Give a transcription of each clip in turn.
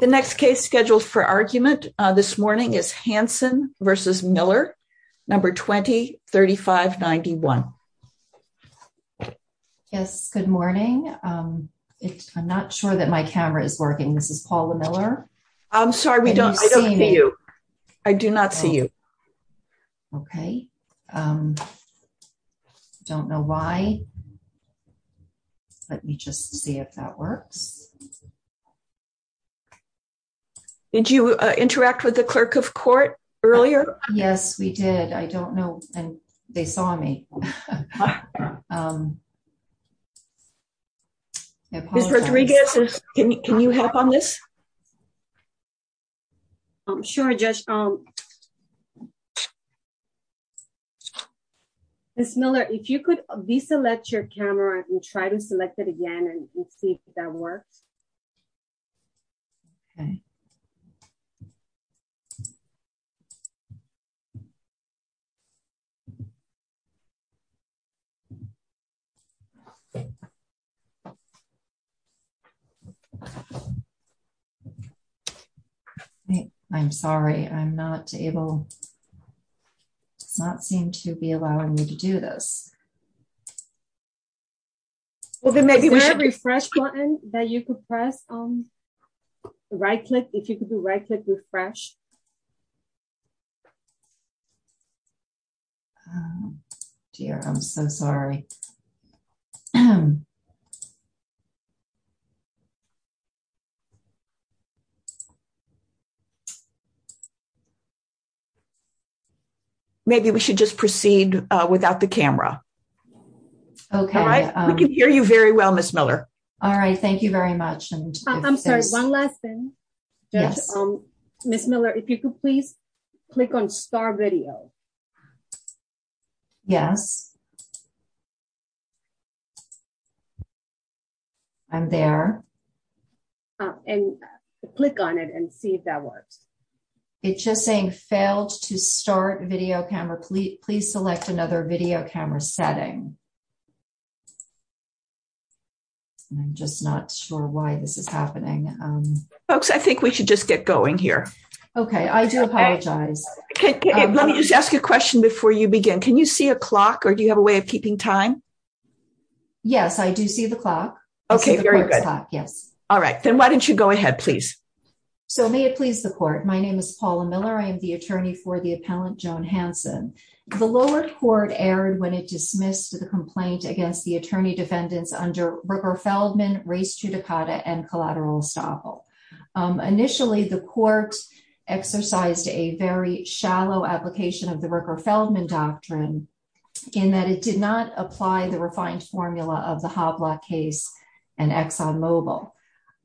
The next case scheduled for argument this morning is Hansen v. Miller, number 20-3591. Yes, good morning. I'm not sure that my camera is working. This is Paula Miller. I'm sorry, I don't see you. I do not see you. Okay, I don't know why. Let me just see if that works. Did you interact with the clerk of court earlier? Yes, we did. I don't know, and they saw me. Ms. Rodriguez, can you help on this? I'm sure, Judge. Ms. Miller, if you could deselect your camera and try to select it again and see if that works. Okay. I'm sorry, I'm not able, does not seem to be allowing me to do this. Is there a refresh button that you could press? Right-click, if you could do right-click refresh. Dear, I'm so sorry. Okay, maybe we should just proceed without the camera. Okay, we can hear you very well, Ms. Miller. All right, thank you very much. I'm sorry, one last thing. Ms. Miller, if you could please click on star video. Yes, I'm there. And click on it and see if that works. It's just saying failed to start video camera. Please select another video camera setting. I'm just not sure why this is happening. Folks, I think we should just get going here. Okay, I do apologize. Let me just ask you a question before you begin. Can you see a clock or do you have a way of keeping time? Yes, I do see the clock. Okay, very good. Yes. All right, then why don't you go ahead, please? So may it please the court. My name is Paula Miller. I am the attorney for the appellant, Joan Hanson. The lower court erred when it dismissed the complaint against the attorney defendants under Rupert Feldman, Race Judicata and Collateral Estoppel. Initially, the court exercised a very shallow application of the Rupert Feldman doctrine in that it did not apply the refined formula of the Hoblock case and Exxon Mobil.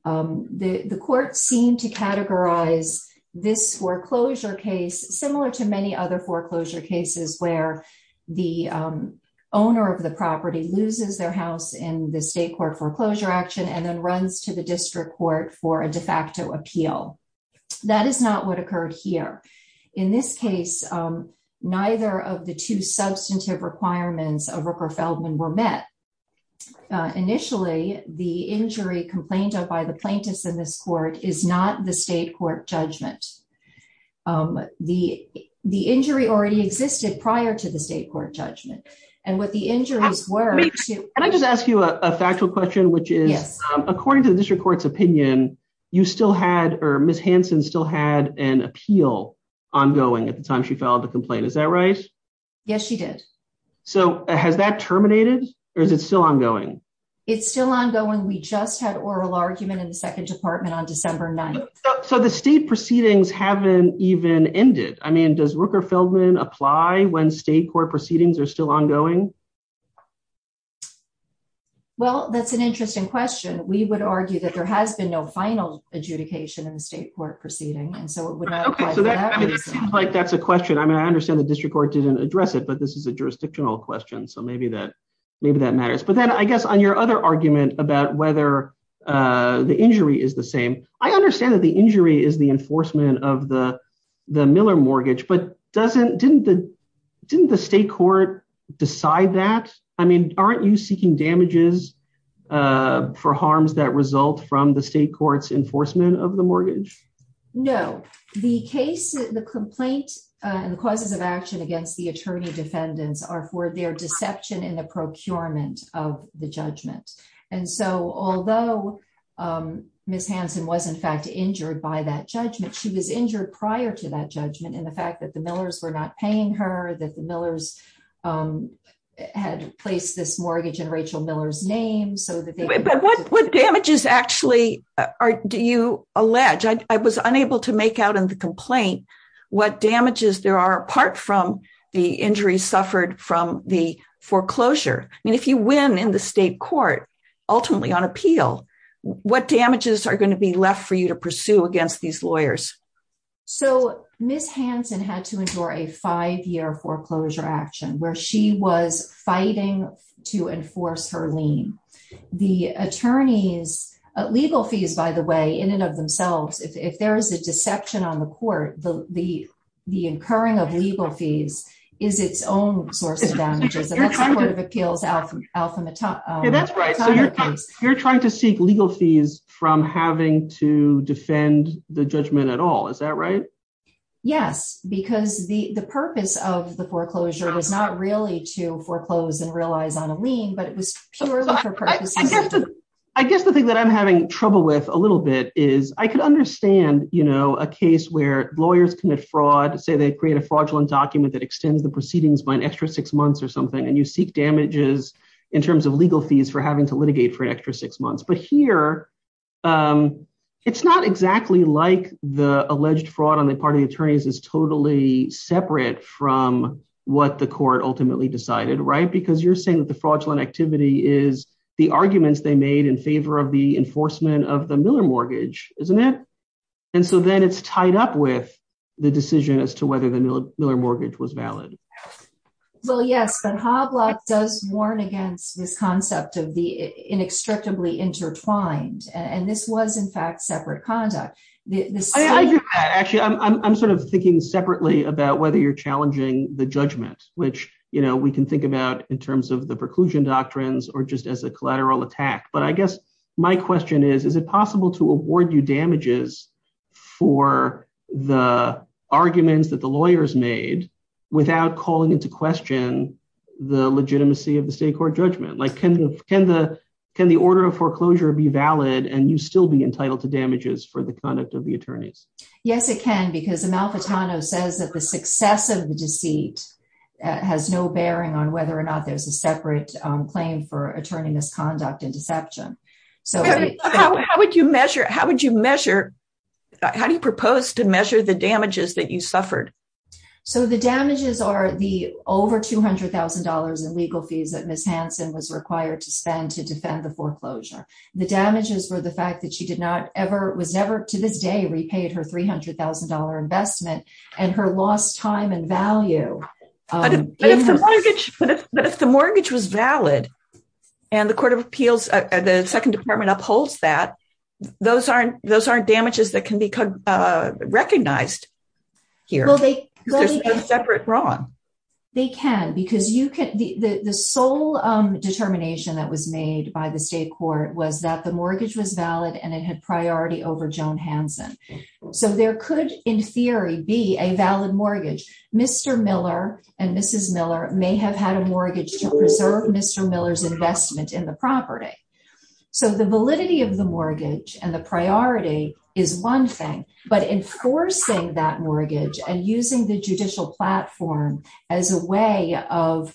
The court seemed to categorize this foreclosure case similar to many other foreclosure cases where the owner of the property loses their house in the state court foreclosure action and then runs to the district court for a de facto appeal. That is not what occurred here. In this case, neither of the two substantive requirements of Rupert Feldman were met. Initially, the injury complained of by the plaintiffs in this court is not the state court judgment. The injury already existed prior to the state court judgment. And what the injuries were... I just ask you a factual question, which is, according to the district court's opinion, Ms. Hanson still had an appeal ongoing at the time she filed the complaint. Is that right? Yes, she did. So has that terminated or is it still ongoing? It's still ongoing. We just had oral argument in the second department on December 9th. So the state proceedings haven't even ended. I mean, does Rupert Feldman apply when state court proceedings are still ongoing? Well, that's an interesting question. We would argue that there has been no final adjudication in the state court proceeding. And so it would not apply to that. So that seems like that's a question. I mean, I understand the district court didn't address it, but this is a jurisdictional question. So maybe that matters. But then I guess on your other argument about whether the injury is the same, I understand that the injury is the enforcement of the Miller mortgage, but didn't the state court decide that? I mean, aren't you seeking damages for harms that result from the state court's enforcement of the mortgage? No, the case, the complaint and the causes of action against the attorney defendants are for their deception in the procurement of the judgment. And so although Ms. Hanson was in fact injured by that judgment, she was injured prior to that judgment in the fact that the Millers were not paying her, that the Millers had placed this mortgage in Rachel Miller's name. But what damages actually do you allege? I was unable to make out in the complaint what damages there are apart from the injuries suffered from the foreclosure. I mean, if you win in the state court, ultimately on appeal, what damages are going to be left for you to pursue against these lawyers? So Ms. Hanson had to endure a five-year foreclosure action where she was fighting to enforce her lien. The attorney's legal fees, by the way, in and of themselves, if there is a deception on the court, the incurring of legal fees is its own source of damages. And that's the Court of Appeals' alpha... Yeah, that's right. You're trying to seek legal fees from having to defend the judgment at all. Is that right? Yes, because the purpose of the foreclosure was not really to foreclose and realize on a lien, but it was purely for purposes of... I guess the thing that I'm having trouble with a little bit is I could understand a case where lawyers commit fraud, say they create a fraudulent document that extends the proceedings by an extra six months or something, and you seek damages in terms of an extra six months. But here, it's not exactly like the alleged fraud on the part of the attorneys is totally separate from what the court ultimately decided, right? Because you're saying that the fraudulent activity is the arguments they made in favor of the enforcement of the Miller mortgage, isn't it? And so then it's tied up with the decision as to whether the Miller mortgage was valid. Well, yes, but Hoblock does warn against this concept of the inextricably intertwined, and this was, in fact, separate conduct. Actually, I'm sort of thinking separately about whether you're challenging the judgment, which we can think about in terms of the preclusion doctrines or just as a collateral attack. But I guess my question is, is it possible to award you damages for the arguments that lawyers made without calling into question the legitimacy of the state court judgment? Can the order of foreclosure be valid and you still be entitled to damages for the conduct of the attorneys? Yes, it can, because Amalfitano says that the success of the deceit has no bearing on whether or not there's a separate claim for attorney misconduct and deception. So how would you measure? How would you measure? How do you propose to measure the damages that you suffered? So the damages are the over $200,000 in legal fees that Ms. Hansen was required to spend to defend the foreclosure. The damages were the fact that she did not ever was never to this day repaid her $300,000 investment and her lost time and value. But if the mortgage was valid and the Court of Appeals, the Second Department upholds that, those aren't damages that can be recognized here. Well, they can. There's no separate wrong. They can, because the sole determination that was made by the state court was that the mortgage was valid and it had priority over Joan Hansen. So there could, in theory, be a valid mortgage. Mr. Miller and Mrs. Miller may have had a mortgage to preserve Mr. Miller's investment in the property. So the validity of the mortgage and the priority is one thing. But enforcing that mortgage and using the judicial platform as a way of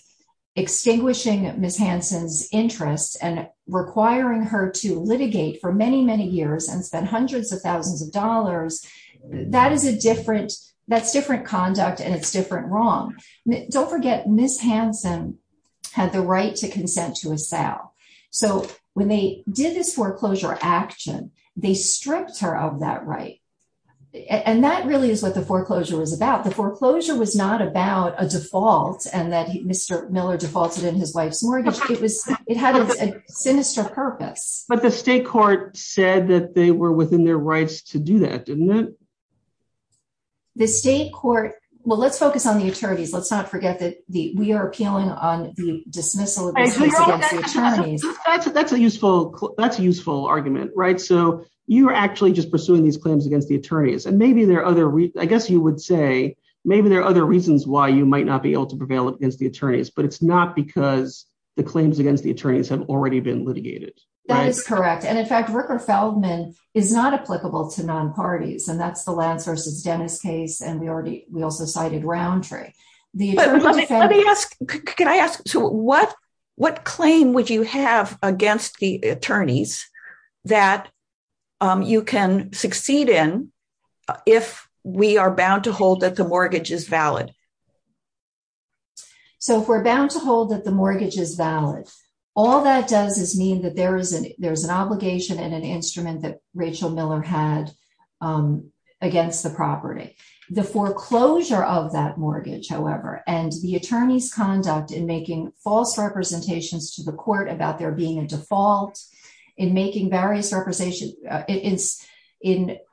extinguishing Ms. Hansen's interests and requiring her to litigate for many, many years and spend hundreds of thousands of dollars, that's different conduct and it's different wrong. Don't forget, Ms. Hansen had the right to consent to a sale. So when they did this foreclosure action, they stripped her of that right. And that really is what the foreclosure was about. The foreclosure was not about a default and that Mr. Miller defaulted in his wife's mortgage. It had a sinister purpose. But the state court said that they were within their rights to do that, didn't it? The state court, well, let's focus on the attorneys. Let's not forget that we are appealing on the dismissal of the case against the attorneys. That's a useful argument, right? So you are actually just pursuing these claims against the attorneys. And maybe there are other, I guess you would say, maybe there are other reasons why you might not be able to prevail against the attorneys. But it's not because the claims against the attorneys have already been litigated. That is correct. And in fact, Ricker-Feldman is not applicable to non-parties. And that's the Lance v. Dennis case. And we also cited Roundtree. Can I ask, what claim would you have against the attorneys that you can succeed in if we are bound to hold that the mortgage is valid? So if we're bound to hold that the mortgage is valid, all that does is mean that there is an obligation and an instrument that Rachel Miller had against the property. The foreclosure of that mortgage, however, and the attorney's conduct in making false representations to the court about there being a default, in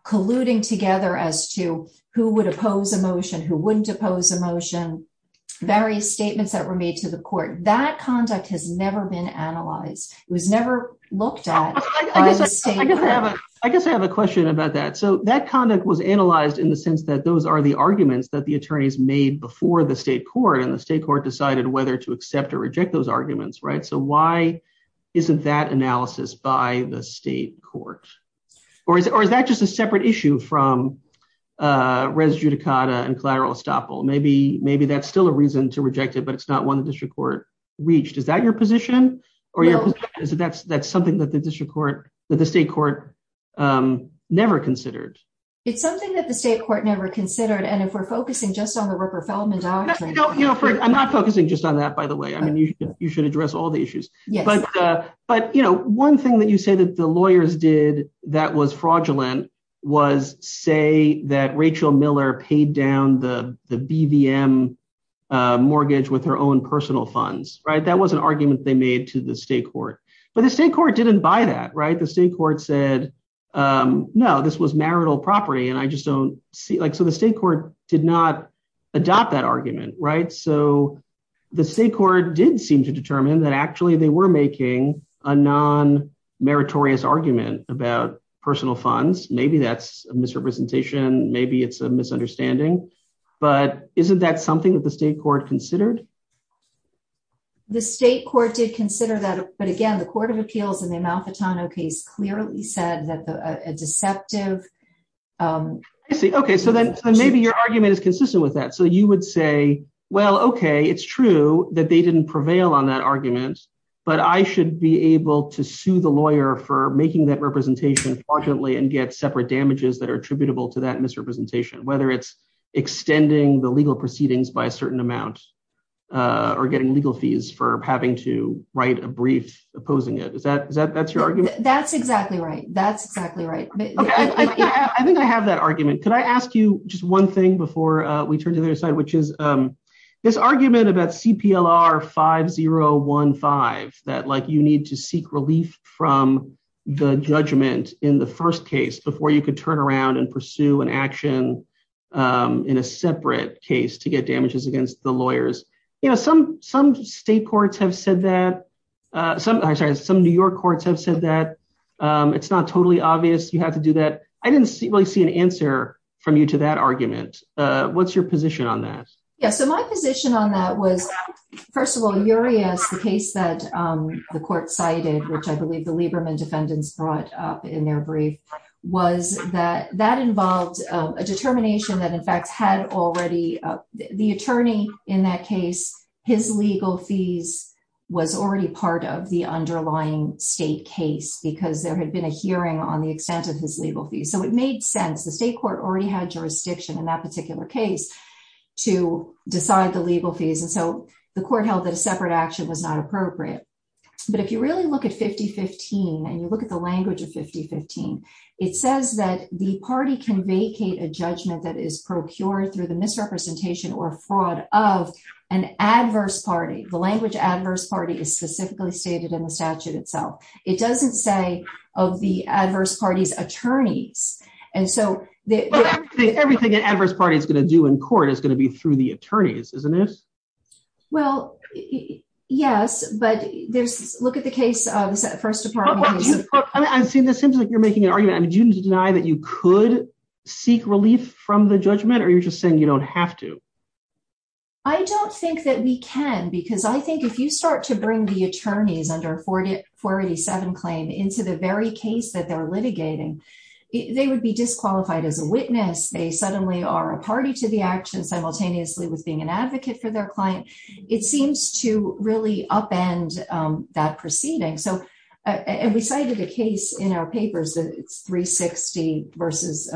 colluding together as to who would oppose a motion, who wouldn't oppose a motion, various statements that were made to the court, that conduct has never been analyzed. It was never looked at. I guess I have a question about that. So that conduct was analyzed in the sense that those are the arguments that the attorneys made before the state court. And the state court decided whether to accept or reject those arguments, right? So why isn't that analysis by the state court? Or is that just a separate issue from res judicata and collateral estoppel? Maybe that's still a reason to reject it, but it's not one the district court reached. Is that your position? That's something that the district court, that the state court never considered. It's something that the state court never considered. And if we're focusing just on the Rupper-Feldman doctrine. I'm not focusing just on that, by the way. I mean, you should address all the issues. But one thing that you say that the lawyers did that was fraudulent was say that Rachel Miller paid down the BVM mortgage with her own personal funds, right? That was an argument they made to the state court. But the state court didn't buy that, right? The state court said, no, this was marital property. And I just don't see like, so the state court did not adopt that argument, right? So the state court did seem to determine that actually they were making a non-meritorious argument about personal funds. Maybe that's a misrepresentation. Maybe it's a misunderstanding. But isn't that something that the state court considered? The state court did consider that. But again, the Court of Appeals in the Amalfitano case clearly said that a deceptive- I see. OK, so then maybe your argument is consistent with that. So you would say, well, OK, it's true that they didn't prevail on that argument. But I should be able to sue the lawyer for making that representation fraudulently and get separate damages that are attributable to that misrepresentation, whether it's extending the legal proceedings by a certain amount. Or getting legal fees for having to write a brief opposing it. Is that your argument? That's exactly right. That's exactly right. I think I have that argument. Could I ask you just one thing before we turn to the other side, which is this argument about CPLR 5015, that you need to seek relief from the judgment in the first case before you could turn around and pursue an action in a separate case to get damages against the lawyers. You know, some state courts have said that- I'm sorry, some New York courts have said that it's not totally obvious you have to do that. I didn't really see an answer from you to that argument. What's your position on that? Yeah, so my position on that was, first of all, Urias, the case that the court cited, which I believe the Lieberman defendants brought up in their brief, was that that involved a determination that in fact had already- the attorney in that case, his legal fees was already part of the underlying state case because there had been a hearing on the extent of his legal fees. So it made sense. The state court already had jurisdiction in that particular case to decide the legal fees. And so the court held that a separate action was not appropriate. But if you really look at 5015, and you look at the language of 5015, it says that the party can vacate a judgment that is procured through the misrepresentation or fraud of an adverse party. The language adverse party is specifically stated in the statute itself. It doesn't say of the adverse party's attorneys. And so- Everything an adverse party is going to do in court is going to be through the attorneys, isn't it? Well, yes, but there's- look at the case of the First Department case- It seems like you're making an argument. I mean, do you deny that you could seek relief from the judgment, or you're just saying you don't have to? I don't think that we can, because I think if you start to bring the attorneys under 487 claim into the very case that they're litigating, they would be disqualified as a witness. They suddenly are a party to the action simultaneously with being an advocate for their client. It seems to really upend that proceeding. And we cited a case in our papers, it's 360 versus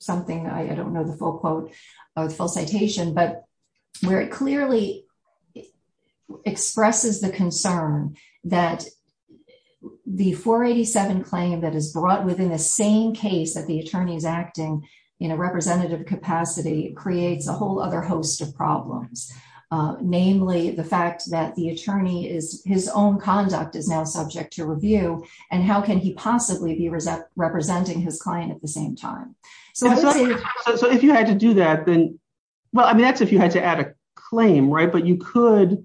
something, I don't know the full quote or the full citation, but where it clearly expresses the concern that the 487 claim that is brought within the same case that the attorney is acting in a representative capacity creates a whole other host of problems. Namely, the fact that the attorney is- his own conduct is now subject to review, and how can he possibly be representing his client at the same time? So if you had to do that, then- well, I mean, that's if you had to add a claim, right? But you could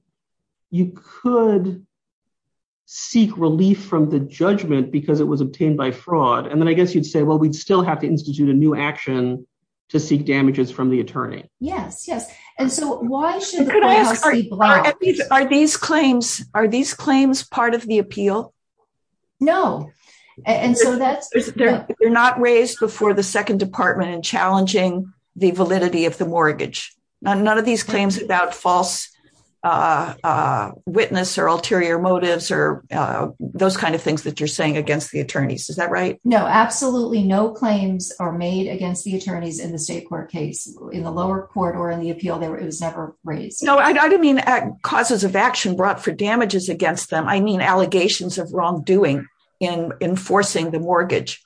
seek relief from the judgment because it was obtained by fraud. And then I guess you'd say, well, we'd still have to institute a new action to seek damages from the attorney. Yes, yes. And so why should- Could I ask, are these claims part of the appeal? No, and so that's- They're not raised before the second department in challenging the validity of the mortgage. None of these claims about false witness or ulterior motives or those kinds of things that you're saying against the attorneys. Is that right? No, absolutely no claims are made against the attorneys in the state court case, in the lower court, or in the appeal. It was never raised. No, I don't mean causes of action brought for damages against them. I mean allegations of wrongdoing in enforcing the mortgage.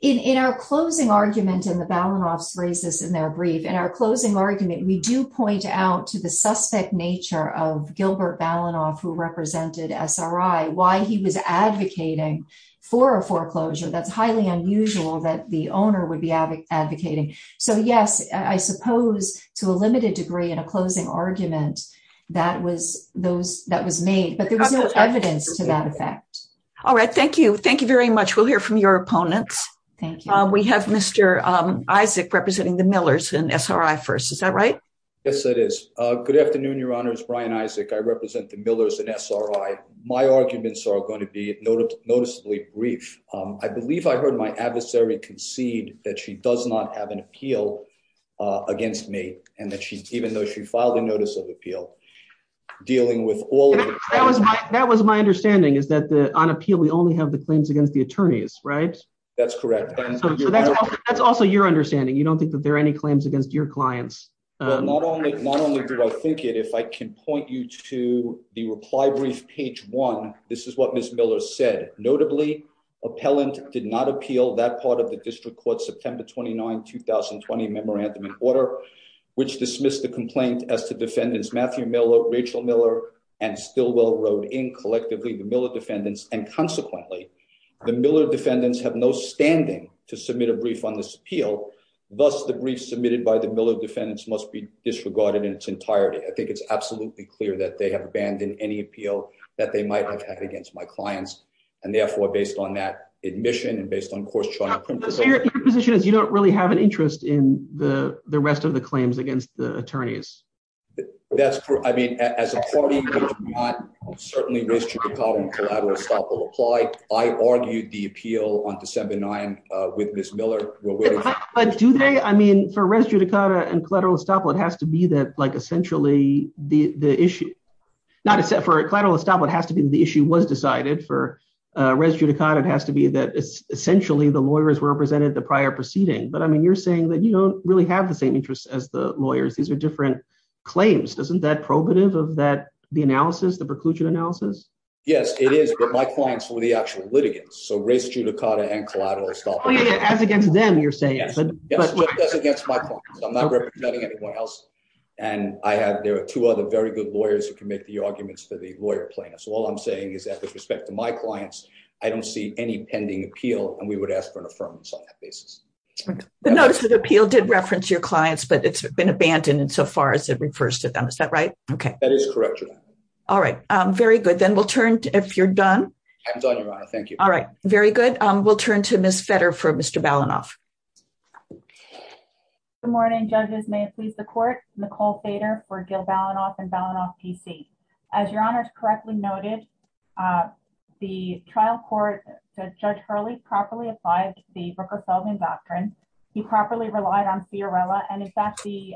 In our closing argument, and the Balanoffs raised this in their brief, in our closing argument, we do point out to the suspect nature of Gilbert Balanoff, who represented SRI, why he was advocating for a foreclosure. That's highly unusual that the owner would be advocating. So yes, I suppose to a limited degree in a closing argument, that was made. But there was no evidence to that effect. All right. Thank you. Thank you very much. We'll hear from your opponents. Thank you. We have Mr. Isaac representing the Millers in SRI first. Is that right? Yes, it is. Good afternoon, Your Honors. Brian Isaac. I represent the Millers in SRI. My arguments are going to be noticeably brief. I believe I heard my adversary concede that she does not have an appeal against me, and that even though she filed a notice of appeal, dealing with all of it. That was my understanding, is that on appeal, we only have the claims against the attorneys, right? That's correct. That's also your understanding. You don't think that there are any claims against your clients? Not only do I think it, if I can point you to the reply brief, page one, this is what appellant did not appeal that part of the district court September 29, 2020 memorandum in order, which dismissed the complaint as to defendants Matthew Miller, Rachel Miller, and Stilwell wrote in collectively, the Miller defendants. And consequently, the Miller defendants have no standing to submit a brief on this appeal. Thus, the brief submitted by the Miller defendants must be disregarded in its entirety. I think it's absolutely clear that they have abandoned any appeal that they might have against my clients. And therefore, based on that admission, and based on course chart. So, your position is you don't really have an interest in the rest of the claims against the attorneys? That's true. I mean, as a party, we do not certainly res judicata and collateral estoppel apply. I argued the appeal on December 9 with Ms. Miller. But do they? I mean, for res judicata and collateral estoppel, it has to be that, like, essentially the issue. Not for collateral estoppel, it has to be the issue was decided. For res judicata, it has to be that, essentially, the lawyers were represented the prior proceeding. But I mean, you're saying that you don't really have the same interests as the lawyers. These are different claims. Isn't that probative of that, the analysis, the preclusion analysis? Yes, it is. But my clients were the actual litigants. So res judicata and collateral estoppel. As against them, you're saying. Yes, just as against my clients. I'm not representing anyone else. And there are two other very good lawyers who can make the arguments for the lawyer plan. So all I'm saying is that with respect to my clients, I don't see any pending appeal. And we would ask for an affirmance on that basis. The notice of the appeal did reference your clients, but it's been abandoned insofar as it refers to them. Is that right? Okay. That is correct, Your Honor. All right. Very good. Then we'll turn if you're done. I'm done, Your Honor. Thank you. All right. Very good. We'll turn to Ms. Fetter for Mr. Balanoff. Good morning, judges. May it please the court. Nicole Fetter for Gil Balanoff and Balanoff, D.C. As Your Honor's correctly noted, the trial court, Judge Hurley, properly applied the Rooker-Seldman doctrine. He properly relied on Fiorella. And in fact, the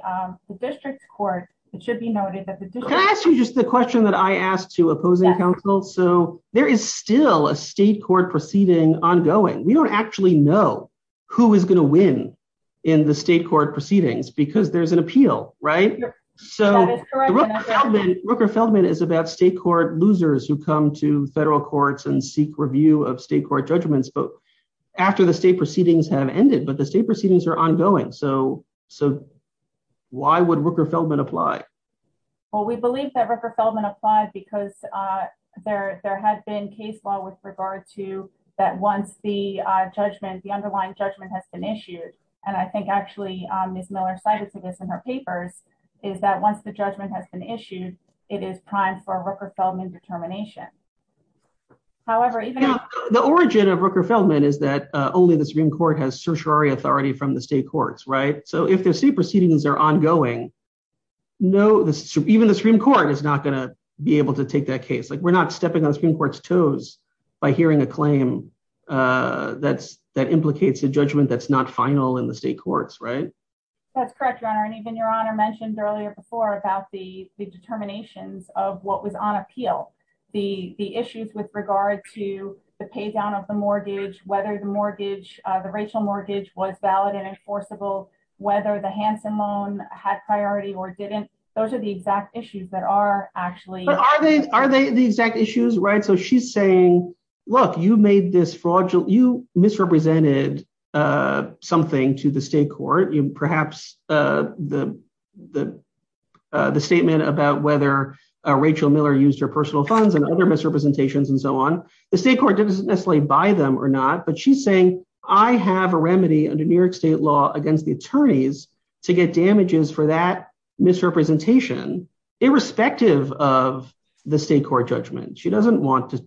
district court, it should be noted that the district. Can I ask you just the question that I asked to opposing counsel? So there is still a state court proceeding ongoing. We don't actually know who is going to win in the state court proceedings because there's an appeal, right? So Rooker-Seldman is about state court losers who come to federal courts and seek review of state court judgments after the state proceedings have ended. But the state proceedings are ongoing. So why would Rooker-Seldman apply? Well, we believe that Rooker-Seldman applied because there had been case law with regard to that once the underlying judgment has been issued. And I think actually Ms. Miller cited to this in her papers is that once the judgment has been issued, it is primed for Rooker-Seldman determination. However, the origin of Rooker-Seldman is that only the Supreme Court has certiorari authority from the state courts, right? So if the state proceedings are ongoing, even the Supreme Court is not going to be able to take that case. Like we're not stepping on the Supreme Court's toes by hearing a claim that implicates a judgment that's not final in the state courts, right? That's correct, Your Honor. And even Your Honor mentioned earlier before about the determinations of what was on appeal. The issues with regard to the pay down of the mortgage, whether the racial mortgage was valid and enforceable, whether the Hansen loan had priority or didn't. Those are the exact issues that are actually... But are they the exact issues, right? So she's saying, look, you misrepresented something to the state court. Perhaps the statement about whether Rachel Miller used her personal funds and other misrepresentations and so on. The state court doesn't necessarily buy them or not, but she's saying, I have a remedy under New York state law against the attorneys to get damages for that misrepresentation irrespective of the state court judgment. She doesn't want to...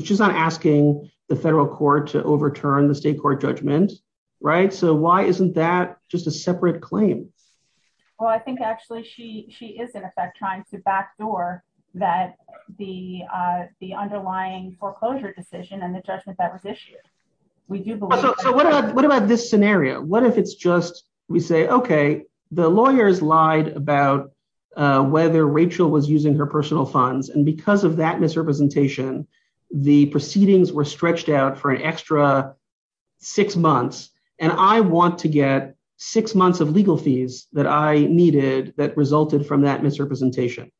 She's not asking the federal court to overturn the state court judgment, right? So why isn't that just a separate claim? Well, I think actually she is in effect trying to backdoor that the underlying foreclosure decision and the judgment that was issued. We do believe... So what about this scenario? What if it's just, we say, okay, the lawyers lied about whether Rachel was using her personal funds. And because of that misrepresentation, the proceedings were stretched out for an extra six months. And I want to get six months of legal fees that I needed that resulted from that misrepresentation.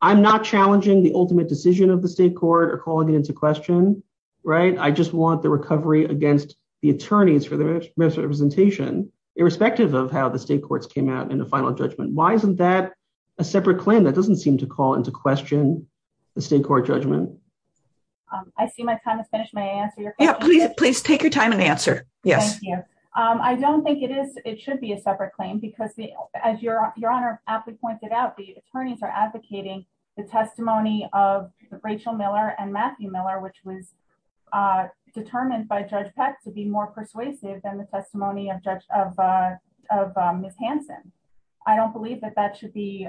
I'm not challenging the ultimate decision of the state court or calling it into question, right? I just want the recovery against the attorneys for their misrepresentation irrespective of how the state courts came out in the final judgment. Why isn't that a separate claim? That doesn't seem to call into question the state court judgment. I see my time has finished. May I answer your question? Please take your time and answer. Yes. I don't think it should be a separate claim because as Your Honor aptly pointed out, the attorneys are advocating the testimony of Rachel Miller and Matthew Miller, which was determined by Judge Peck to be more persuasive than the testimony of Ms. Hanson. I don't believe that that should be...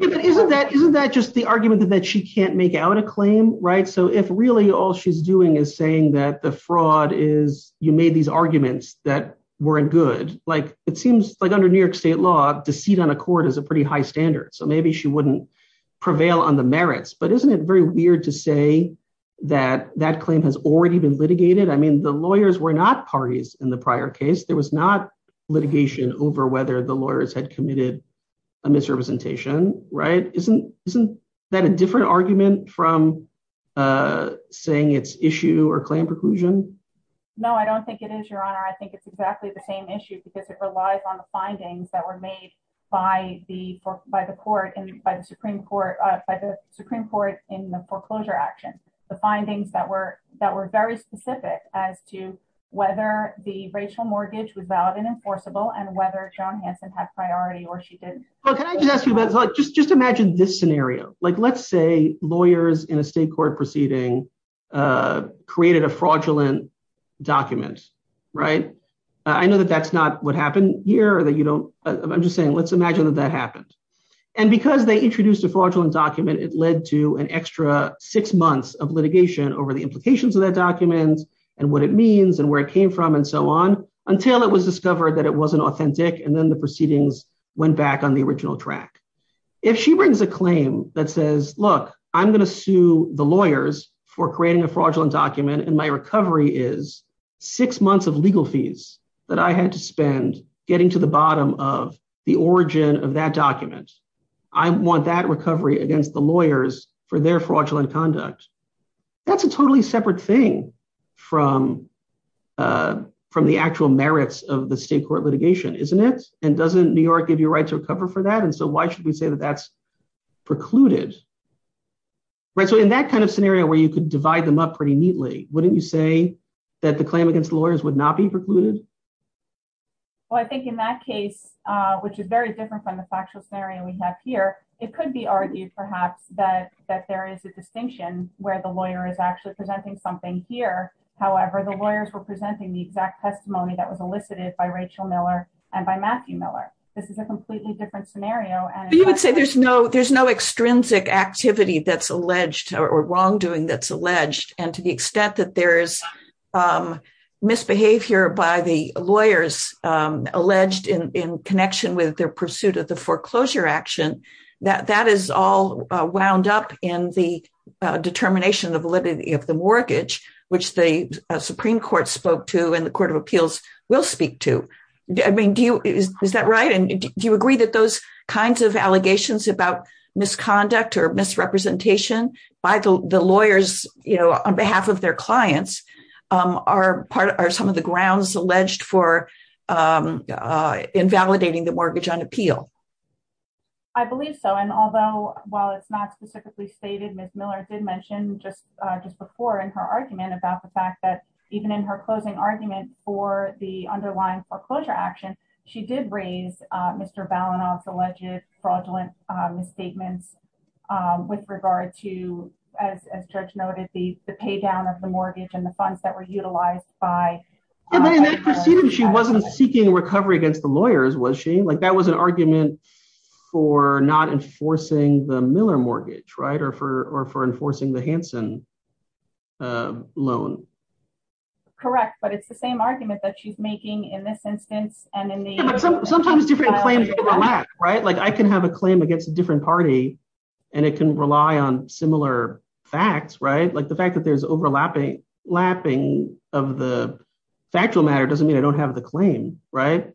Isn't that just the argument that she can't make out a claim, right? So if really all she's doing is saying that the fraud is you made these arguments that weren't good, like it seems like under New York state law, deceit on a court is a pretty high standard. So maybe she wouldn't prevail on the merits. But isn't it very weird to say that that claim has already been litigated? I mean, the lawyers were not parties in the prior case. There was not litigation over whether the lawyers had committed a misrepresentation, right? Isn't that a different argument from saying it's issue or claim preclusion? No, I don't think it is, Your Honor. I think it's exactly the same issue because it relies on the findings that were made by the Supreme Court in the foreclosure action. The findings that were very specific as to whether the racial mortgage was valid and enforceable and whether John Hanson had priority or she didn't. Well, can I just ask you about, just imagine this scenario. Like let's say lawyers in a state court proceeding created a fraudulent document, right? I know that that's not what happened here. I'm just saying, let's imagine that that happened. And because they introduced a fraudulent document, it led to an extra six months of litigation over the implications of that document and what it means and where it came from and so on until it was discovered that it wasn't authentic. And then the proceedings went back on the original track. If she brings a claim that says, look, I'm going to sue the lawyers for creating a fraudulent document and my recovery is six months of legal fees that I had to spend getting to the bottom of the origin of that document. I want that recovery against the lawyers for their fraudulent conduct. That's a totally separate thing from the actual merits of the state court litigation, isn't it? And doesn't New York give you a right to recover for that? And so why should we say that that's precluded? So in that kind of scenario where you could divide them up pretty neatly, wouldn't you say that the claim against lawyers would not be precluded? Well, I think in that case, which is very different from the factual scenario we have here, it could be argued perhaps that there is a distinction where the lawyer is actually presenting something here. However, the lawyers were presenting the exact testimony that was elicited by Rachel Miller and by Matthew Miller. This is a completely different scenario. You would say there's no extrinsic activity that's alleged or wrongdoing that's alleged. And to the extent that there is misbehavior by the lawyers alleged in connection with their pursuit of the foreclosure action, that is all wound up in the determination of validity of the mortgage, which the Supreme Court spoke to and the Court of Appeals will speak to. I mean, is that right? And do you agree that those kinds of allegations about misconduct or misrepresentation by the lawyers on behalf of their clients are some of the grounds alleged for invalidating the mortgage on appeal? I believe so. And although, while it's not specifically stated, Ms. Miller did mention just before in her argument about the fact that even in her closing argument for the underlying foreclosure action, she did raise Mr. Balinoff's alleged fraudulent misstatements with regard to, as Judge noted, the paydown of the mortgage and the funds that were utilized by- Yeah, but in that proceeding, she wasn't seeking recovery against the lawyers, was she? That was an argument for not enforcing the Miller mortgage, right, or for enforcing the Hansen loan. Correct, but it's the same argument that she's making in this instance and in the- Sometimes different claims overlap, right? I can have a claim against a different party, and it can rely on similar facts, right? The fact that there's overlapping of the factual matter doesn't mean I don't have the claim, right?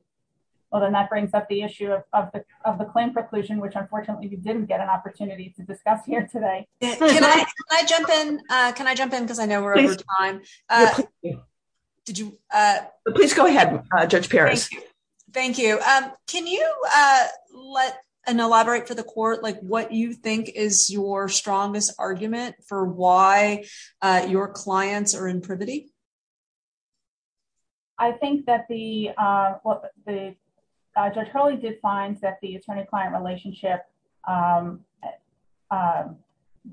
Well, then that brings up the issue of the claim preclusion, which unfortunately we didn't get an opportunity to discuss here today. Can I jump in? Can I jump in? Because I know we're over time. Did you- Please go ahead, Judge Perez. Thank you. Can you elaborate for the court, like what you think is your strongest argument for why your clients are in privity? I think that the- Judge Hurley did find that the attorney-client relationship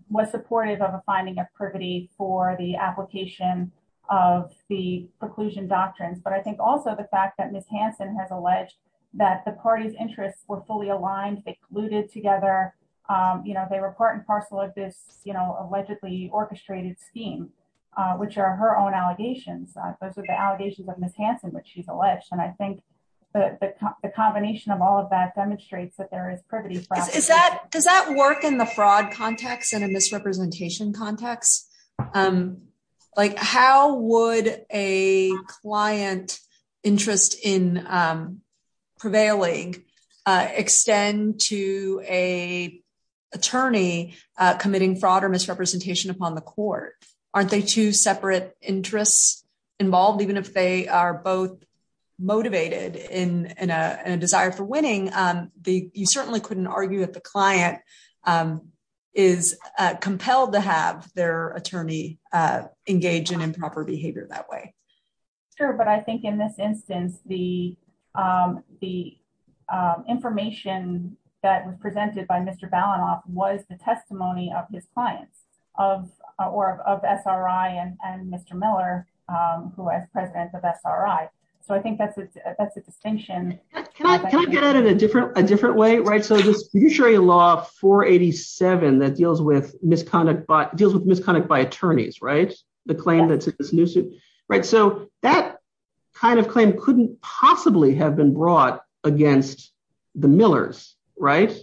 was supportive of a finding of privity for the application of the preclusion doctrines, but I think also the fact that Ms. Hansen has alleged that the party's interests were fully aligned, they cluded together, they were part and parcel of this allegedly orchestrated scheme, which are her own allegations. Those are the allegations of Ms. Hansen, which she's alleged, and I think the combination of all of that demonstrates that there is privity. Does that work in the fraud context and a misrepresentation context? How would a client interest in prevailing extend to a attorney committing fraud or misrepresentation upon the court? Aren't they two separate interests involved? Even if they are both motivated in a desire for winning, you certainly couldn't argue that the client is compelled to have their attorney engage in improper behavior that way. Sure, but I think in this instance, the information that was presented by Mr. Balanoff was the testimony of his clients, of SRI and Mr. Miller, who was president of SRI. So I think that's a distinction. Can I get at it a different way? So this judiciary law 487 that deals with misconduct by attorneys, the claim that's in this new suit, so that kind of claim couldn't possibly have been brought against the Millers, right?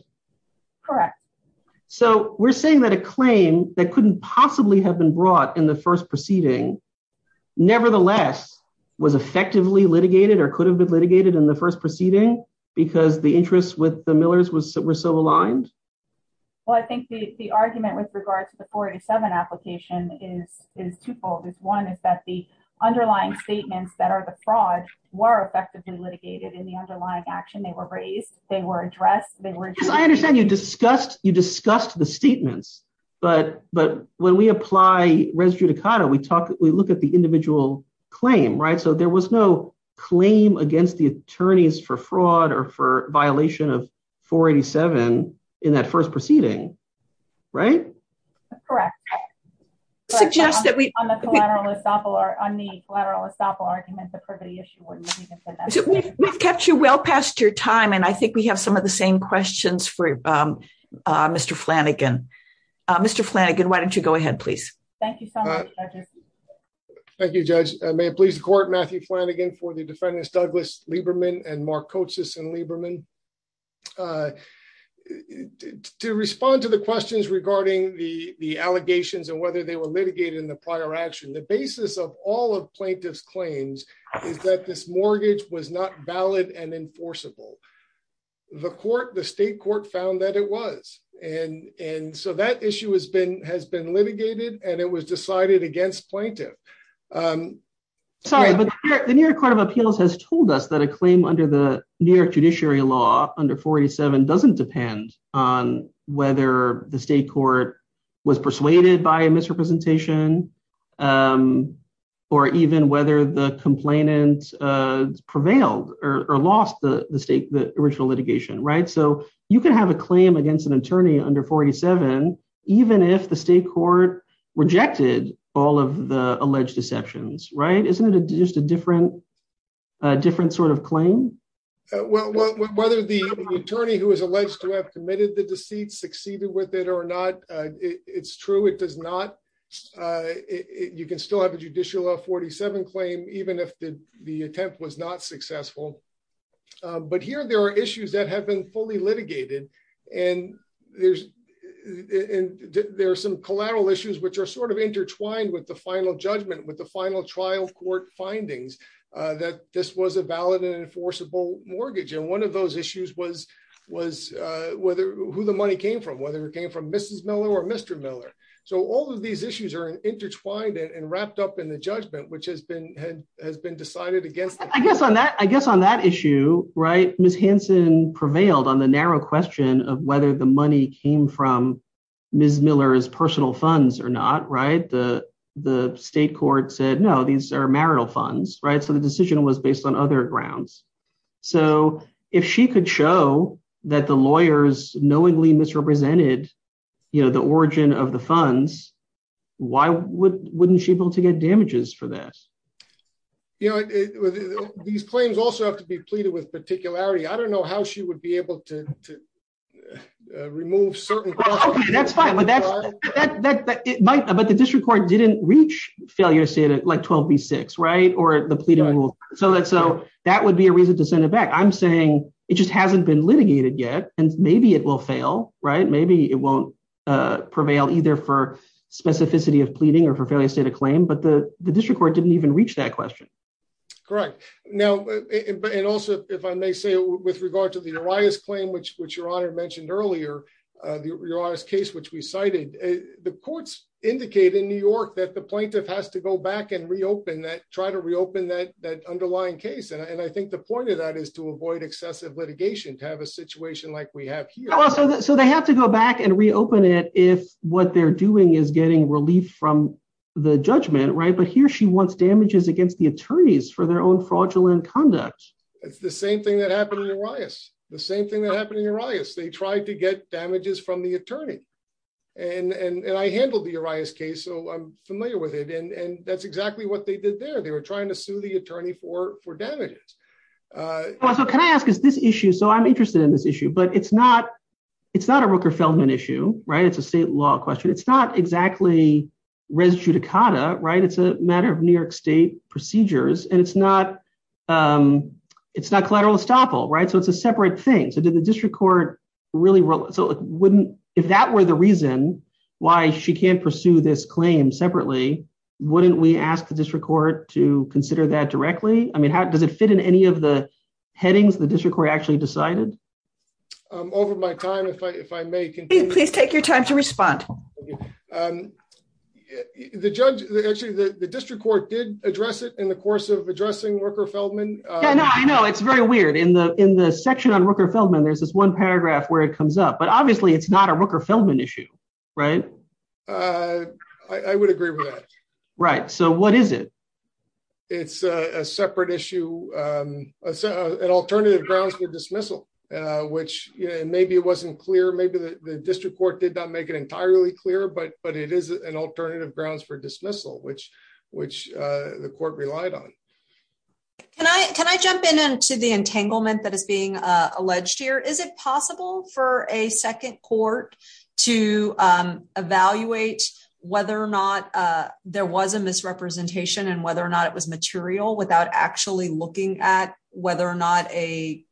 Correct. So we're saying that a claim that couldn't possibly have been brought in the first proceeding, nevertheless, was effectively litigated or could have been litigated in the first proceeding because the interests with the Millers were so aligned? Well, I think the argument with regard to the 487 application is twofold. One is that the underlying statements that are the fraud were effectively litigated in the underlying action. They were raised. They were addressed. Because I understand you discussed the statements, but when we apply res judicata, we look at the individual claim, right? So there was no claim against the attorneys for fraud or for violation of 487 in that first proceeding, right? Correct. Suggest that we— On the collateral estoppel argument, the privity issue wouldn't have even been— We've kept you well past your time, and I think we have some of the same questions for Mr. Flanagan. Mr. Flanagan, why don't you go ahead, please? Thank you so much, Judge. Thank you, Judge. May it please the court, Matthew Flanagan for the defendants, Douglas Lieberman and Mark Kotsis and Lieberman. To respond to the questions regarding the allegations and whether they were litigated in the prior action, the basis of all of plaintiff's claims is that this mortgage was not valid and enforceable. The court, the state court, found that it was, and so that issue has been litigated, and it was decided against plaintiff. Sorry, but the New York Court of Appeals has told us that a claim under the New York judiciary law under 487 doesn't depend on whether the state court was persuaded by a misrepresentation or even whether the complainant prevailed or lost the original litigation, right? So you can have a claim against an attorney under 487 even if the state court rejected all of the alleged deceptions, right? Isn't it just a different sort of claim? Well, whether the attorney who is alleged to have committed the deceit succeeded with it or not, it's true. It does not. You can still have a judicial 47 claim even if the attempt was not successful. But here there are issues that have been fully litigated, and there are some collateral issues which are sort of intertwined with the final judgment, with the final trial court findings that this was a valid and enforceable mortgage. And one of those issues was whether who the money came from, whether it came from Mrs. Miller or Mr. Miller. So all of these issues are intertwined and wrapped up in the judgment, which has been decided against. I guess on that issue, right, Ms. Hansen prevailed on the narrow question of whether the money came from Ms. Miller's personal funds or not, right? The state court said, no, these are marital funds, right? So the decision was based on other grounds. So if she could show that the lawyers knowingly misrepresented, you know, the origin of the funds, why wouldn't she be able to get damages for that? You know, these claims also have to be pleaded with particularity. I don't know how she would be able to remove certain- Well, okay, that's fine. But the district court didn't reach failure, say, like 12B6, right, or the pleading rule. So that would be a reason to send it back. I'm saying it just hasn't been litigated yet, and maybe it will fail, right? Maybe it won't prevail either for specificity of pleading or for failure state of claim, but the district court didn't even reach that question. Correct. Now, and also, if I may say, with regard to the Arias claim, which your honor mentioned earlier, the Arias case, which we cited, the courts indicate in New York that the plaintiff has to go back and reopen that, that underlying case. And I think the point of that is to avoid excessive litigation, to have a situation like we have here. So they have to go back and reopen it if what they're doing is getting relief from the judgment, right? But here she wants damages against the attorneys for their own fraudulent conduct. It's the same thing that happened in Arias. The same thing that happened in Arias. They tried to get damages from the attorney. And I handled the Arias case, so I'm familiar with it. And that's exactly what they did there. They were trying to sue the attorney for damages. So can I ask, is this issue, so I'm interested in this issue, but it's not, it's not a Rooker-Feldman issue, right? It's a state law question. It's not exactly res judicata, right? It's a matter of New York state procedures. And it's not, it's not collateral estoppel, right? So it's a separate thing. So did the district court really, so wouldn't, if that were the reason why she can't pursue this claim separately, wouldn't we ask the district court to consider that directly? I mean, how does it fit in any of the headings the district court actually decided? Over my time, if I may continue. Please take your time to respond. The judge, actually the district court did address it in the course of addressing Rooker-Feldman. Yeah, no, I know. It's very weird. In the section on Rooker-Feldman, there's this one paragraph where it comes up, but obviously it's not a Rooker-Feldman issue, right? I would agree with that. Right, so what is it? It's a separate issue, an alternative grounds for dismissal, which maybe it wasn't clear. Maybe the district court did not make it entirely clear, but it is an alternative grounds for dismissal, which the court relied on. Can I jump in to the entanglement that is being alleged here? Is it possible for a second court to evaluate whether or not there was a misrepresentation and whether or not it was material without actually looking at whether or not a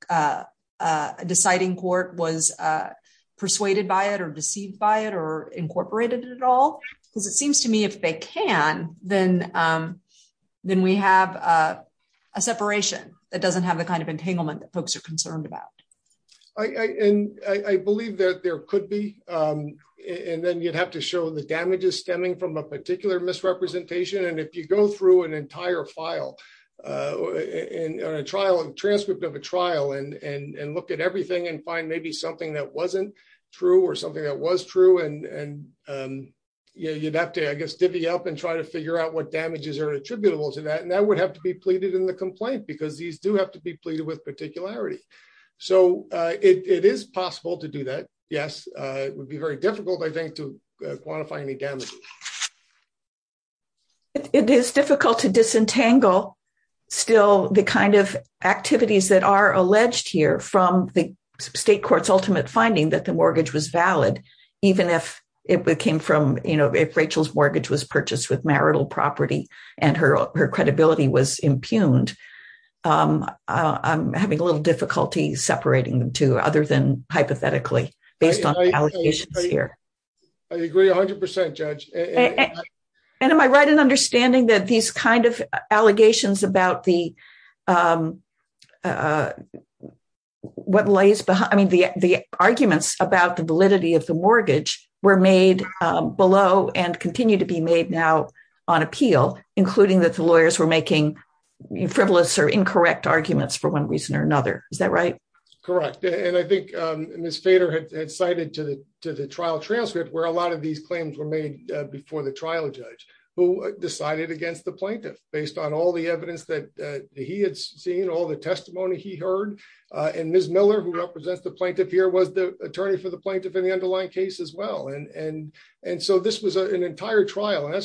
deciding court was persuaded by it or deceived by it or incorporated at all? Because it seems to me if they can, then we have a separation that doesn't have the kind of entanglement that folks are concerned about. I believe that there could be. And then you'd have to show the damages stemming from a particular misrepresentation. And if you go through an entire file and a transcript of a trial and look at everything and find maybe something that wasn't true or something that was true, and you'd have to, I guess, divvy up and try to figure out what damages are attributable to that. And that would have to be pleaded in the complaint because these do have to be pleaded with particularity. So it is possible to do that. Yes, it would be very difficult, I think, to quantify any damage. It is difficult to disentangle still the kind of activities that are alleged here from the state court's ultimate finding that the mortgage was valid, even if it came from if Rachel's mortgage was purchased with marital property and her credibility was impugned. I'm having a little difficulty separating them two other than hypothetically based on allegations here. I agree 100%, Judge. And am I right in understanding that these kind of allegations about the what lays behind the arguments about the validity of the mortgage were made below and continue to be made now on appeal, including that the lawyers were making frivolous or incorrect arguments for one reason or another? Is that right? Correct. And I think Ms. Fader had cited to the trial transcript where a lot of these claims were made before the trial judge who decided against the plaintiff based on all the evidence that he had seen, all the testimony he heard. And Ms. Miller, who represents the plaintiff here, was the attorney for the plaintiff in the underlying case as well. And so this was an entire trial. And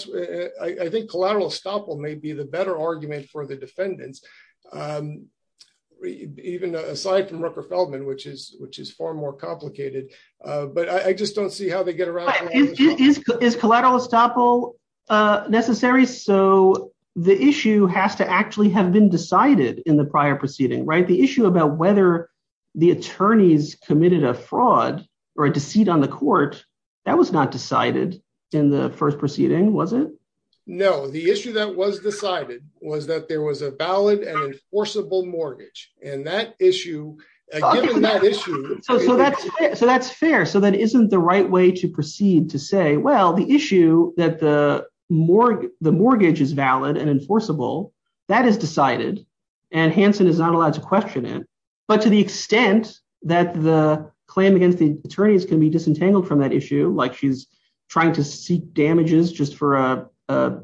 I think collateral estoppel may be the better argument for the defendants, even aside from Rooker Feldman, which is far more complicated. But I just don't see how they get around. But is collateral estoppel necessary? So the issue has to actually have been decided in the prior proceeding, right? The issue about whether the attorneys committed a fraud or a deceit on the court was not decided in the first proceeding, was it? No. The issue that was decided was that there was a valid and enforceable mortgage. And that issue, given that issue... So that's fair. So that isn't the right way to proceed to say, well, the issue that the mortgage is valid and enforceable, that is decided and Hansen is not allowed to question it. But to the extent that the claim against the attorneys can be disentangled from that issue, like she's trying to seek damages just for a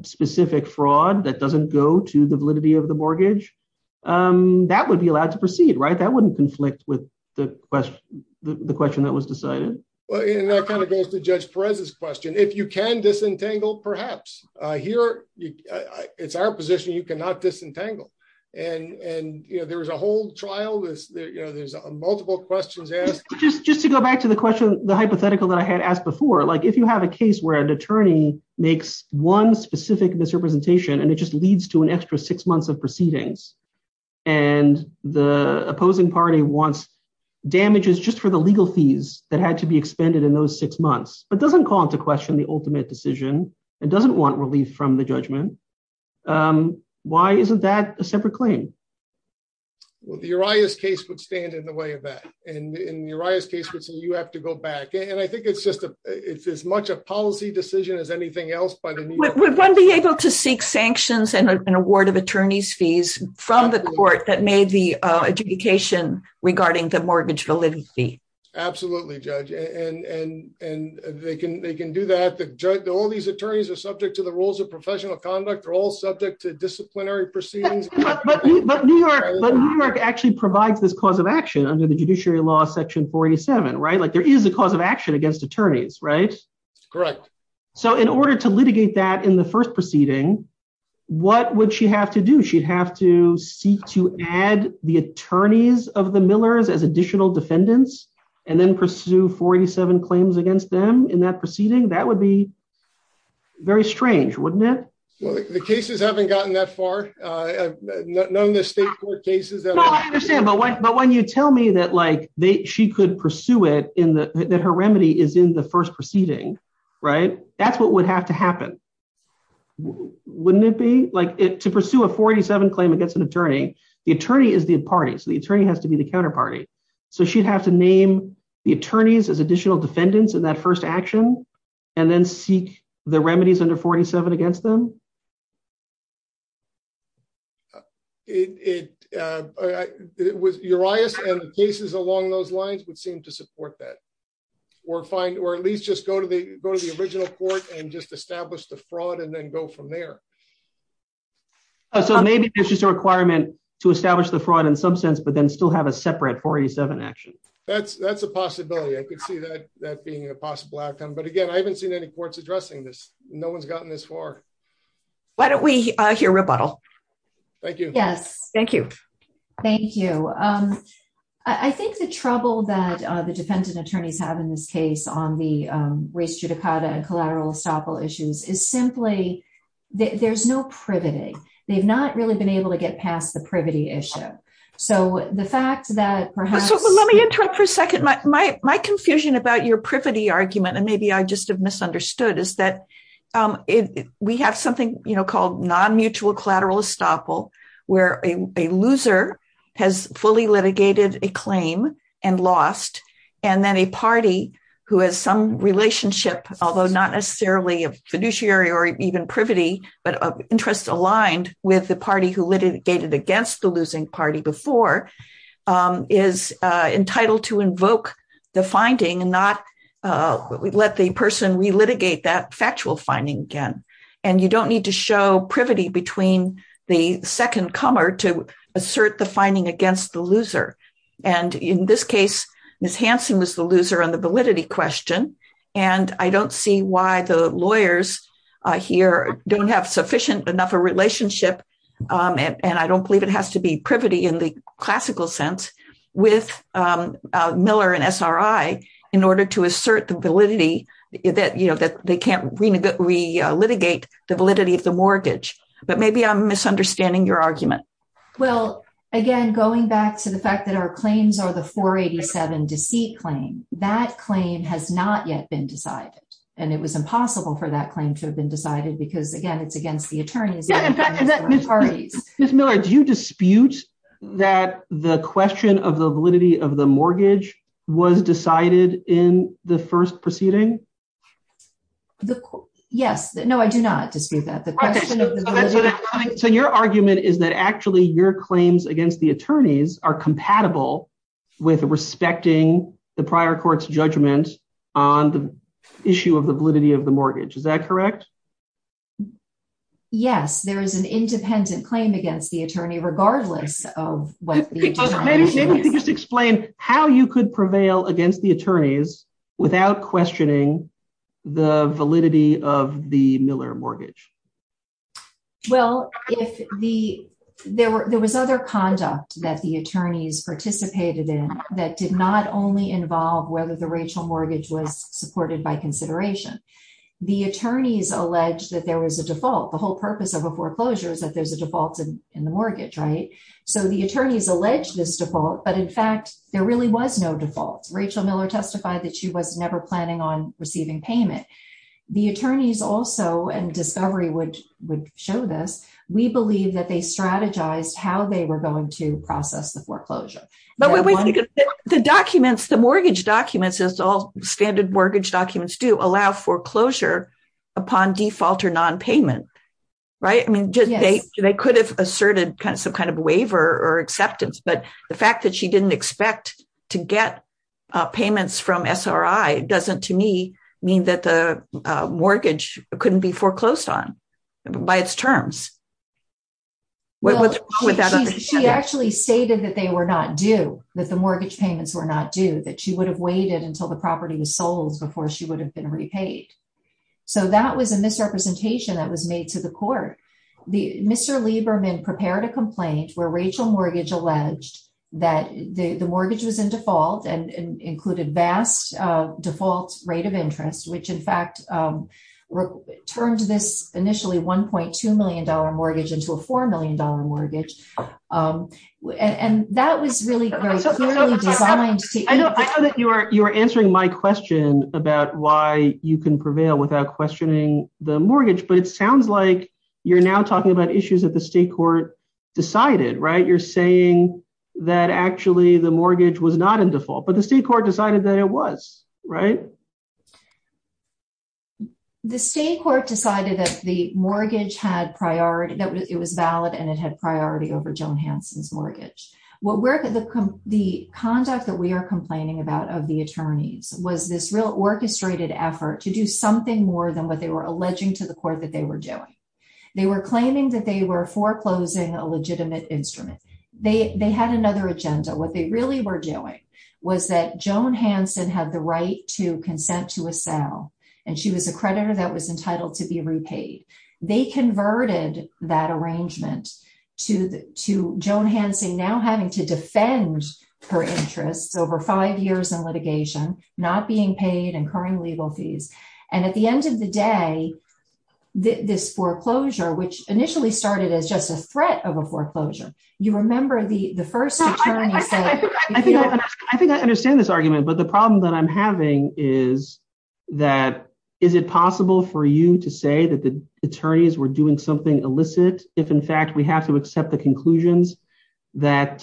specific fraud that doesn't go to the validity of the mortgage, that would be allowed to proceed, right? That wouldn't conflict with the question that was decided. Well, and that kind of goes to Judge Perez's question. If you can disentangle, perhaps. It's our position you cannot disentangle. And there was a whole trial. There's multiple questions asked. Just to go back to the hypothetical that I had asked before, if you have a case where an attorney makes one specific misrepresentation and it just leads to an extra six months of proceedings and the opposing party wants damages just for the legal fees that had to be expended in those six months, but doesn't call into question the ultimate decision and doesn't want relief from the judgment, why isn't that a separate claim? Well, the Urias case would stand in the way of that. And in the Urias case, you have to go back. And I think it's just as much a policy decision as anything else. Would one be able to seek sanctions and an award of attorney's fees from the court that made the adjudication regarding the mortgage validity? Absolutely, Judge. And they can do that. All these attorneys are subject to the rules of professional conduct. They're all subject to disciplinary proceedings. But New York actually provides this cause of action under the Judiciary Law Section 47, right? Like there is a cause of action against attorneys, right? Correct. So in order to litigate that in the first proceeding, what would she have to do? She'd have to seek to add the attorneys of the Millers as additional defendants and then pursue 47 claims against them in that proceeding. That would be very strange, wouldn't it? Well, the cases haven't gotten that far. None of the state court cases. No, I understand. But when you tell me that she could pursue it, that her remedy is in the first proceeding, right? That's what would have to happen, wouldn't it be? To pursue a 47 claim against an attorney, the attorney is the party. So the attorney has to be the counterparty. So she'd have to name the attorneys as additional defendants in that first action and then seek the remedies under 47 against them. It was Urias and the cases along those lines would seem to support that. Or at least just go to the original court and just establish the fraud and then go from there. So maybe it's just a requirement to establish the fraud in some sense, but then still have a separate 47 action. That's a possibility. I could see that being a possible outcome. But again, I haven't seen any courts addressing this. No one's gotten this far. Why don't we hear rebuttal? Thank you. Yes. Thank you. Thank you. I think the trouble that the defendant attorneys have in this case on the race judicata and collateral estoppel issues is simply there's no privity. They've not really been able to get past the privity issue. So the fact that perhaps... Let me interrupt for a second. My confusion about your privity argument and maybe I just have misunderstood is that we have something called non-mutual collateral estoppel, where a loser has fully litigated a claim and lost, and then a party who has some relationship, although not necessarily a fiduciary or even privity, but interests aligned with the party who litigated against the losing party before, is entitled to invoke the finding and not let the person relitigate that factual finding again. And you don't need to show privity between the second comer to assert the finding against the loser. And in this case, Ms. Hansen was the loser on the validity question. And I don't see why the lawyers here don't have sufficient enough a relationship. And I don't believe it has to be privity in the classical sense with Miller and SRI in order to assert the validity that they can't re-litigate the validity of the mortgage. But maybe I'm misunderstanding your argument. Well, again, going back to the fact that our claims are the 487 deceit claim, that claim has not yet been decided. And it was impossible for that claim to have been decided because, again, it's against the attorneys. Ms. Miller, do you dispute that the question of the validity of the mortgage was decided in the first proceeding? Yes. No, I do not dispute that. So your argument is that actually your claims against the attorneys are compatible with respecting the prior court's judgment on the issue of the validity of the mortgage. Is that correct? Yes. There is an independent claim against the attorney regardless of what the attorney is. Maybe you could just explain how you could prevail against the attorneys without questioning the validity of the Miller mortgage. Well, there was other conduct that the attorneys participated in that did not only involve whether the Rachel mortgage was supported by consideration. The attorneys alleged that there was a default. The whole purpose of a foreclosure is that there's a default in the mortgage, right? So the attorneys alleged this default. But in fact, there really was no default. Rachel Miller testified that she was never planning on receiving payment. The attorneys also, and discovery would show this, we believe that they strategized how they were going to process the foreclosure. But the documents, the mortgage documents, all standard mortgage documents do allow foreclosure upon default or nonpayment, right? I mean, they could have asserted some kind of waiver or acceptance. But the fact that she didn't expect to get payments from SRI doesn't to me mean that the mortgage couldn't be foreclosed on by its terms. She actually stated that they were not due, that the mortgage payments were not due, that she would have waited until the property was sold before she would have been repaid. So that was a misrepresentation that was made to the court. Mr. Lieberman prepared a complaint where Rachel mortgage alleged that the mortgage was in default and included vast default rate of interest, which in fact turned this initially $1.2 million mortgage into a $4 million mortgage. And that was really very clearly designed to... I know that you are answering my question about why you can prevail without questioning the mortgage, but it sounds like you're now talking about issues that the state court decided, right? You're saying that actually the mortgage was not in default, but the state court decided that it was, right? The state court decided that the mortgage had priority, it was valid and it had priority over Joan Hansen's mortgage. The conduct that we are complaining about of the attorneys was this real orchestrated effort to do something more than what they were alleging to the court that they were doing. They were claiming that they were foreclosing a legitimate instrument. They had another agenda. What they really were doing was that Joan Hansen had the right to consent to a sale, and she was a creditor that was entitled to be repaid. They converted that arrangement to Joan Hansen now having to defend her interests over five years in litigation, not being paid and incurring legal fees. And at the end of the day, this foreclosure, which initially started as just a threat of a foreclosure, you remember the first attorney said- I think I understand this argument, but the problem that I'm having is that, is it possible for you to say that the attorneys were doing something illicit if in fact we have to accept the conclusions that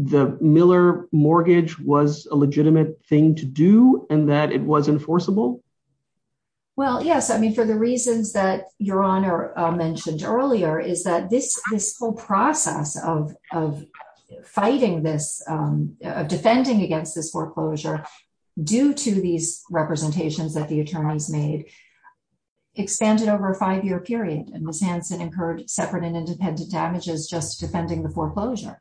the Miller mortgage was a legitimate thing to do and that it was enforceable? Well, yes. I mean, for the reasons that Your Honor mentioned earlier, is that this whole process of fighting this, of defending against this foreclosure, due to these representations that the attorneys made, expanded over a five-year period. And Ms. Hansen incurred separate and independent damages just defending the foreclosure.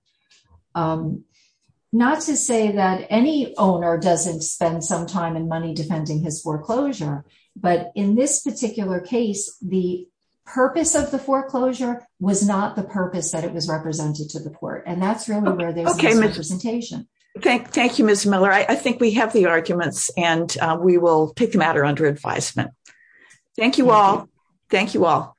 Not to say that any owner doesn't spend some time and money defending his foreclosure, but in this particular case, the purpose of the foreclosure was not the purpose that it was represented to the court. And that's really where there's this representation. Thank you, Ms. Miller. I think we have the arguments and we will take the matter under advisement. Thank you all. Thank you all.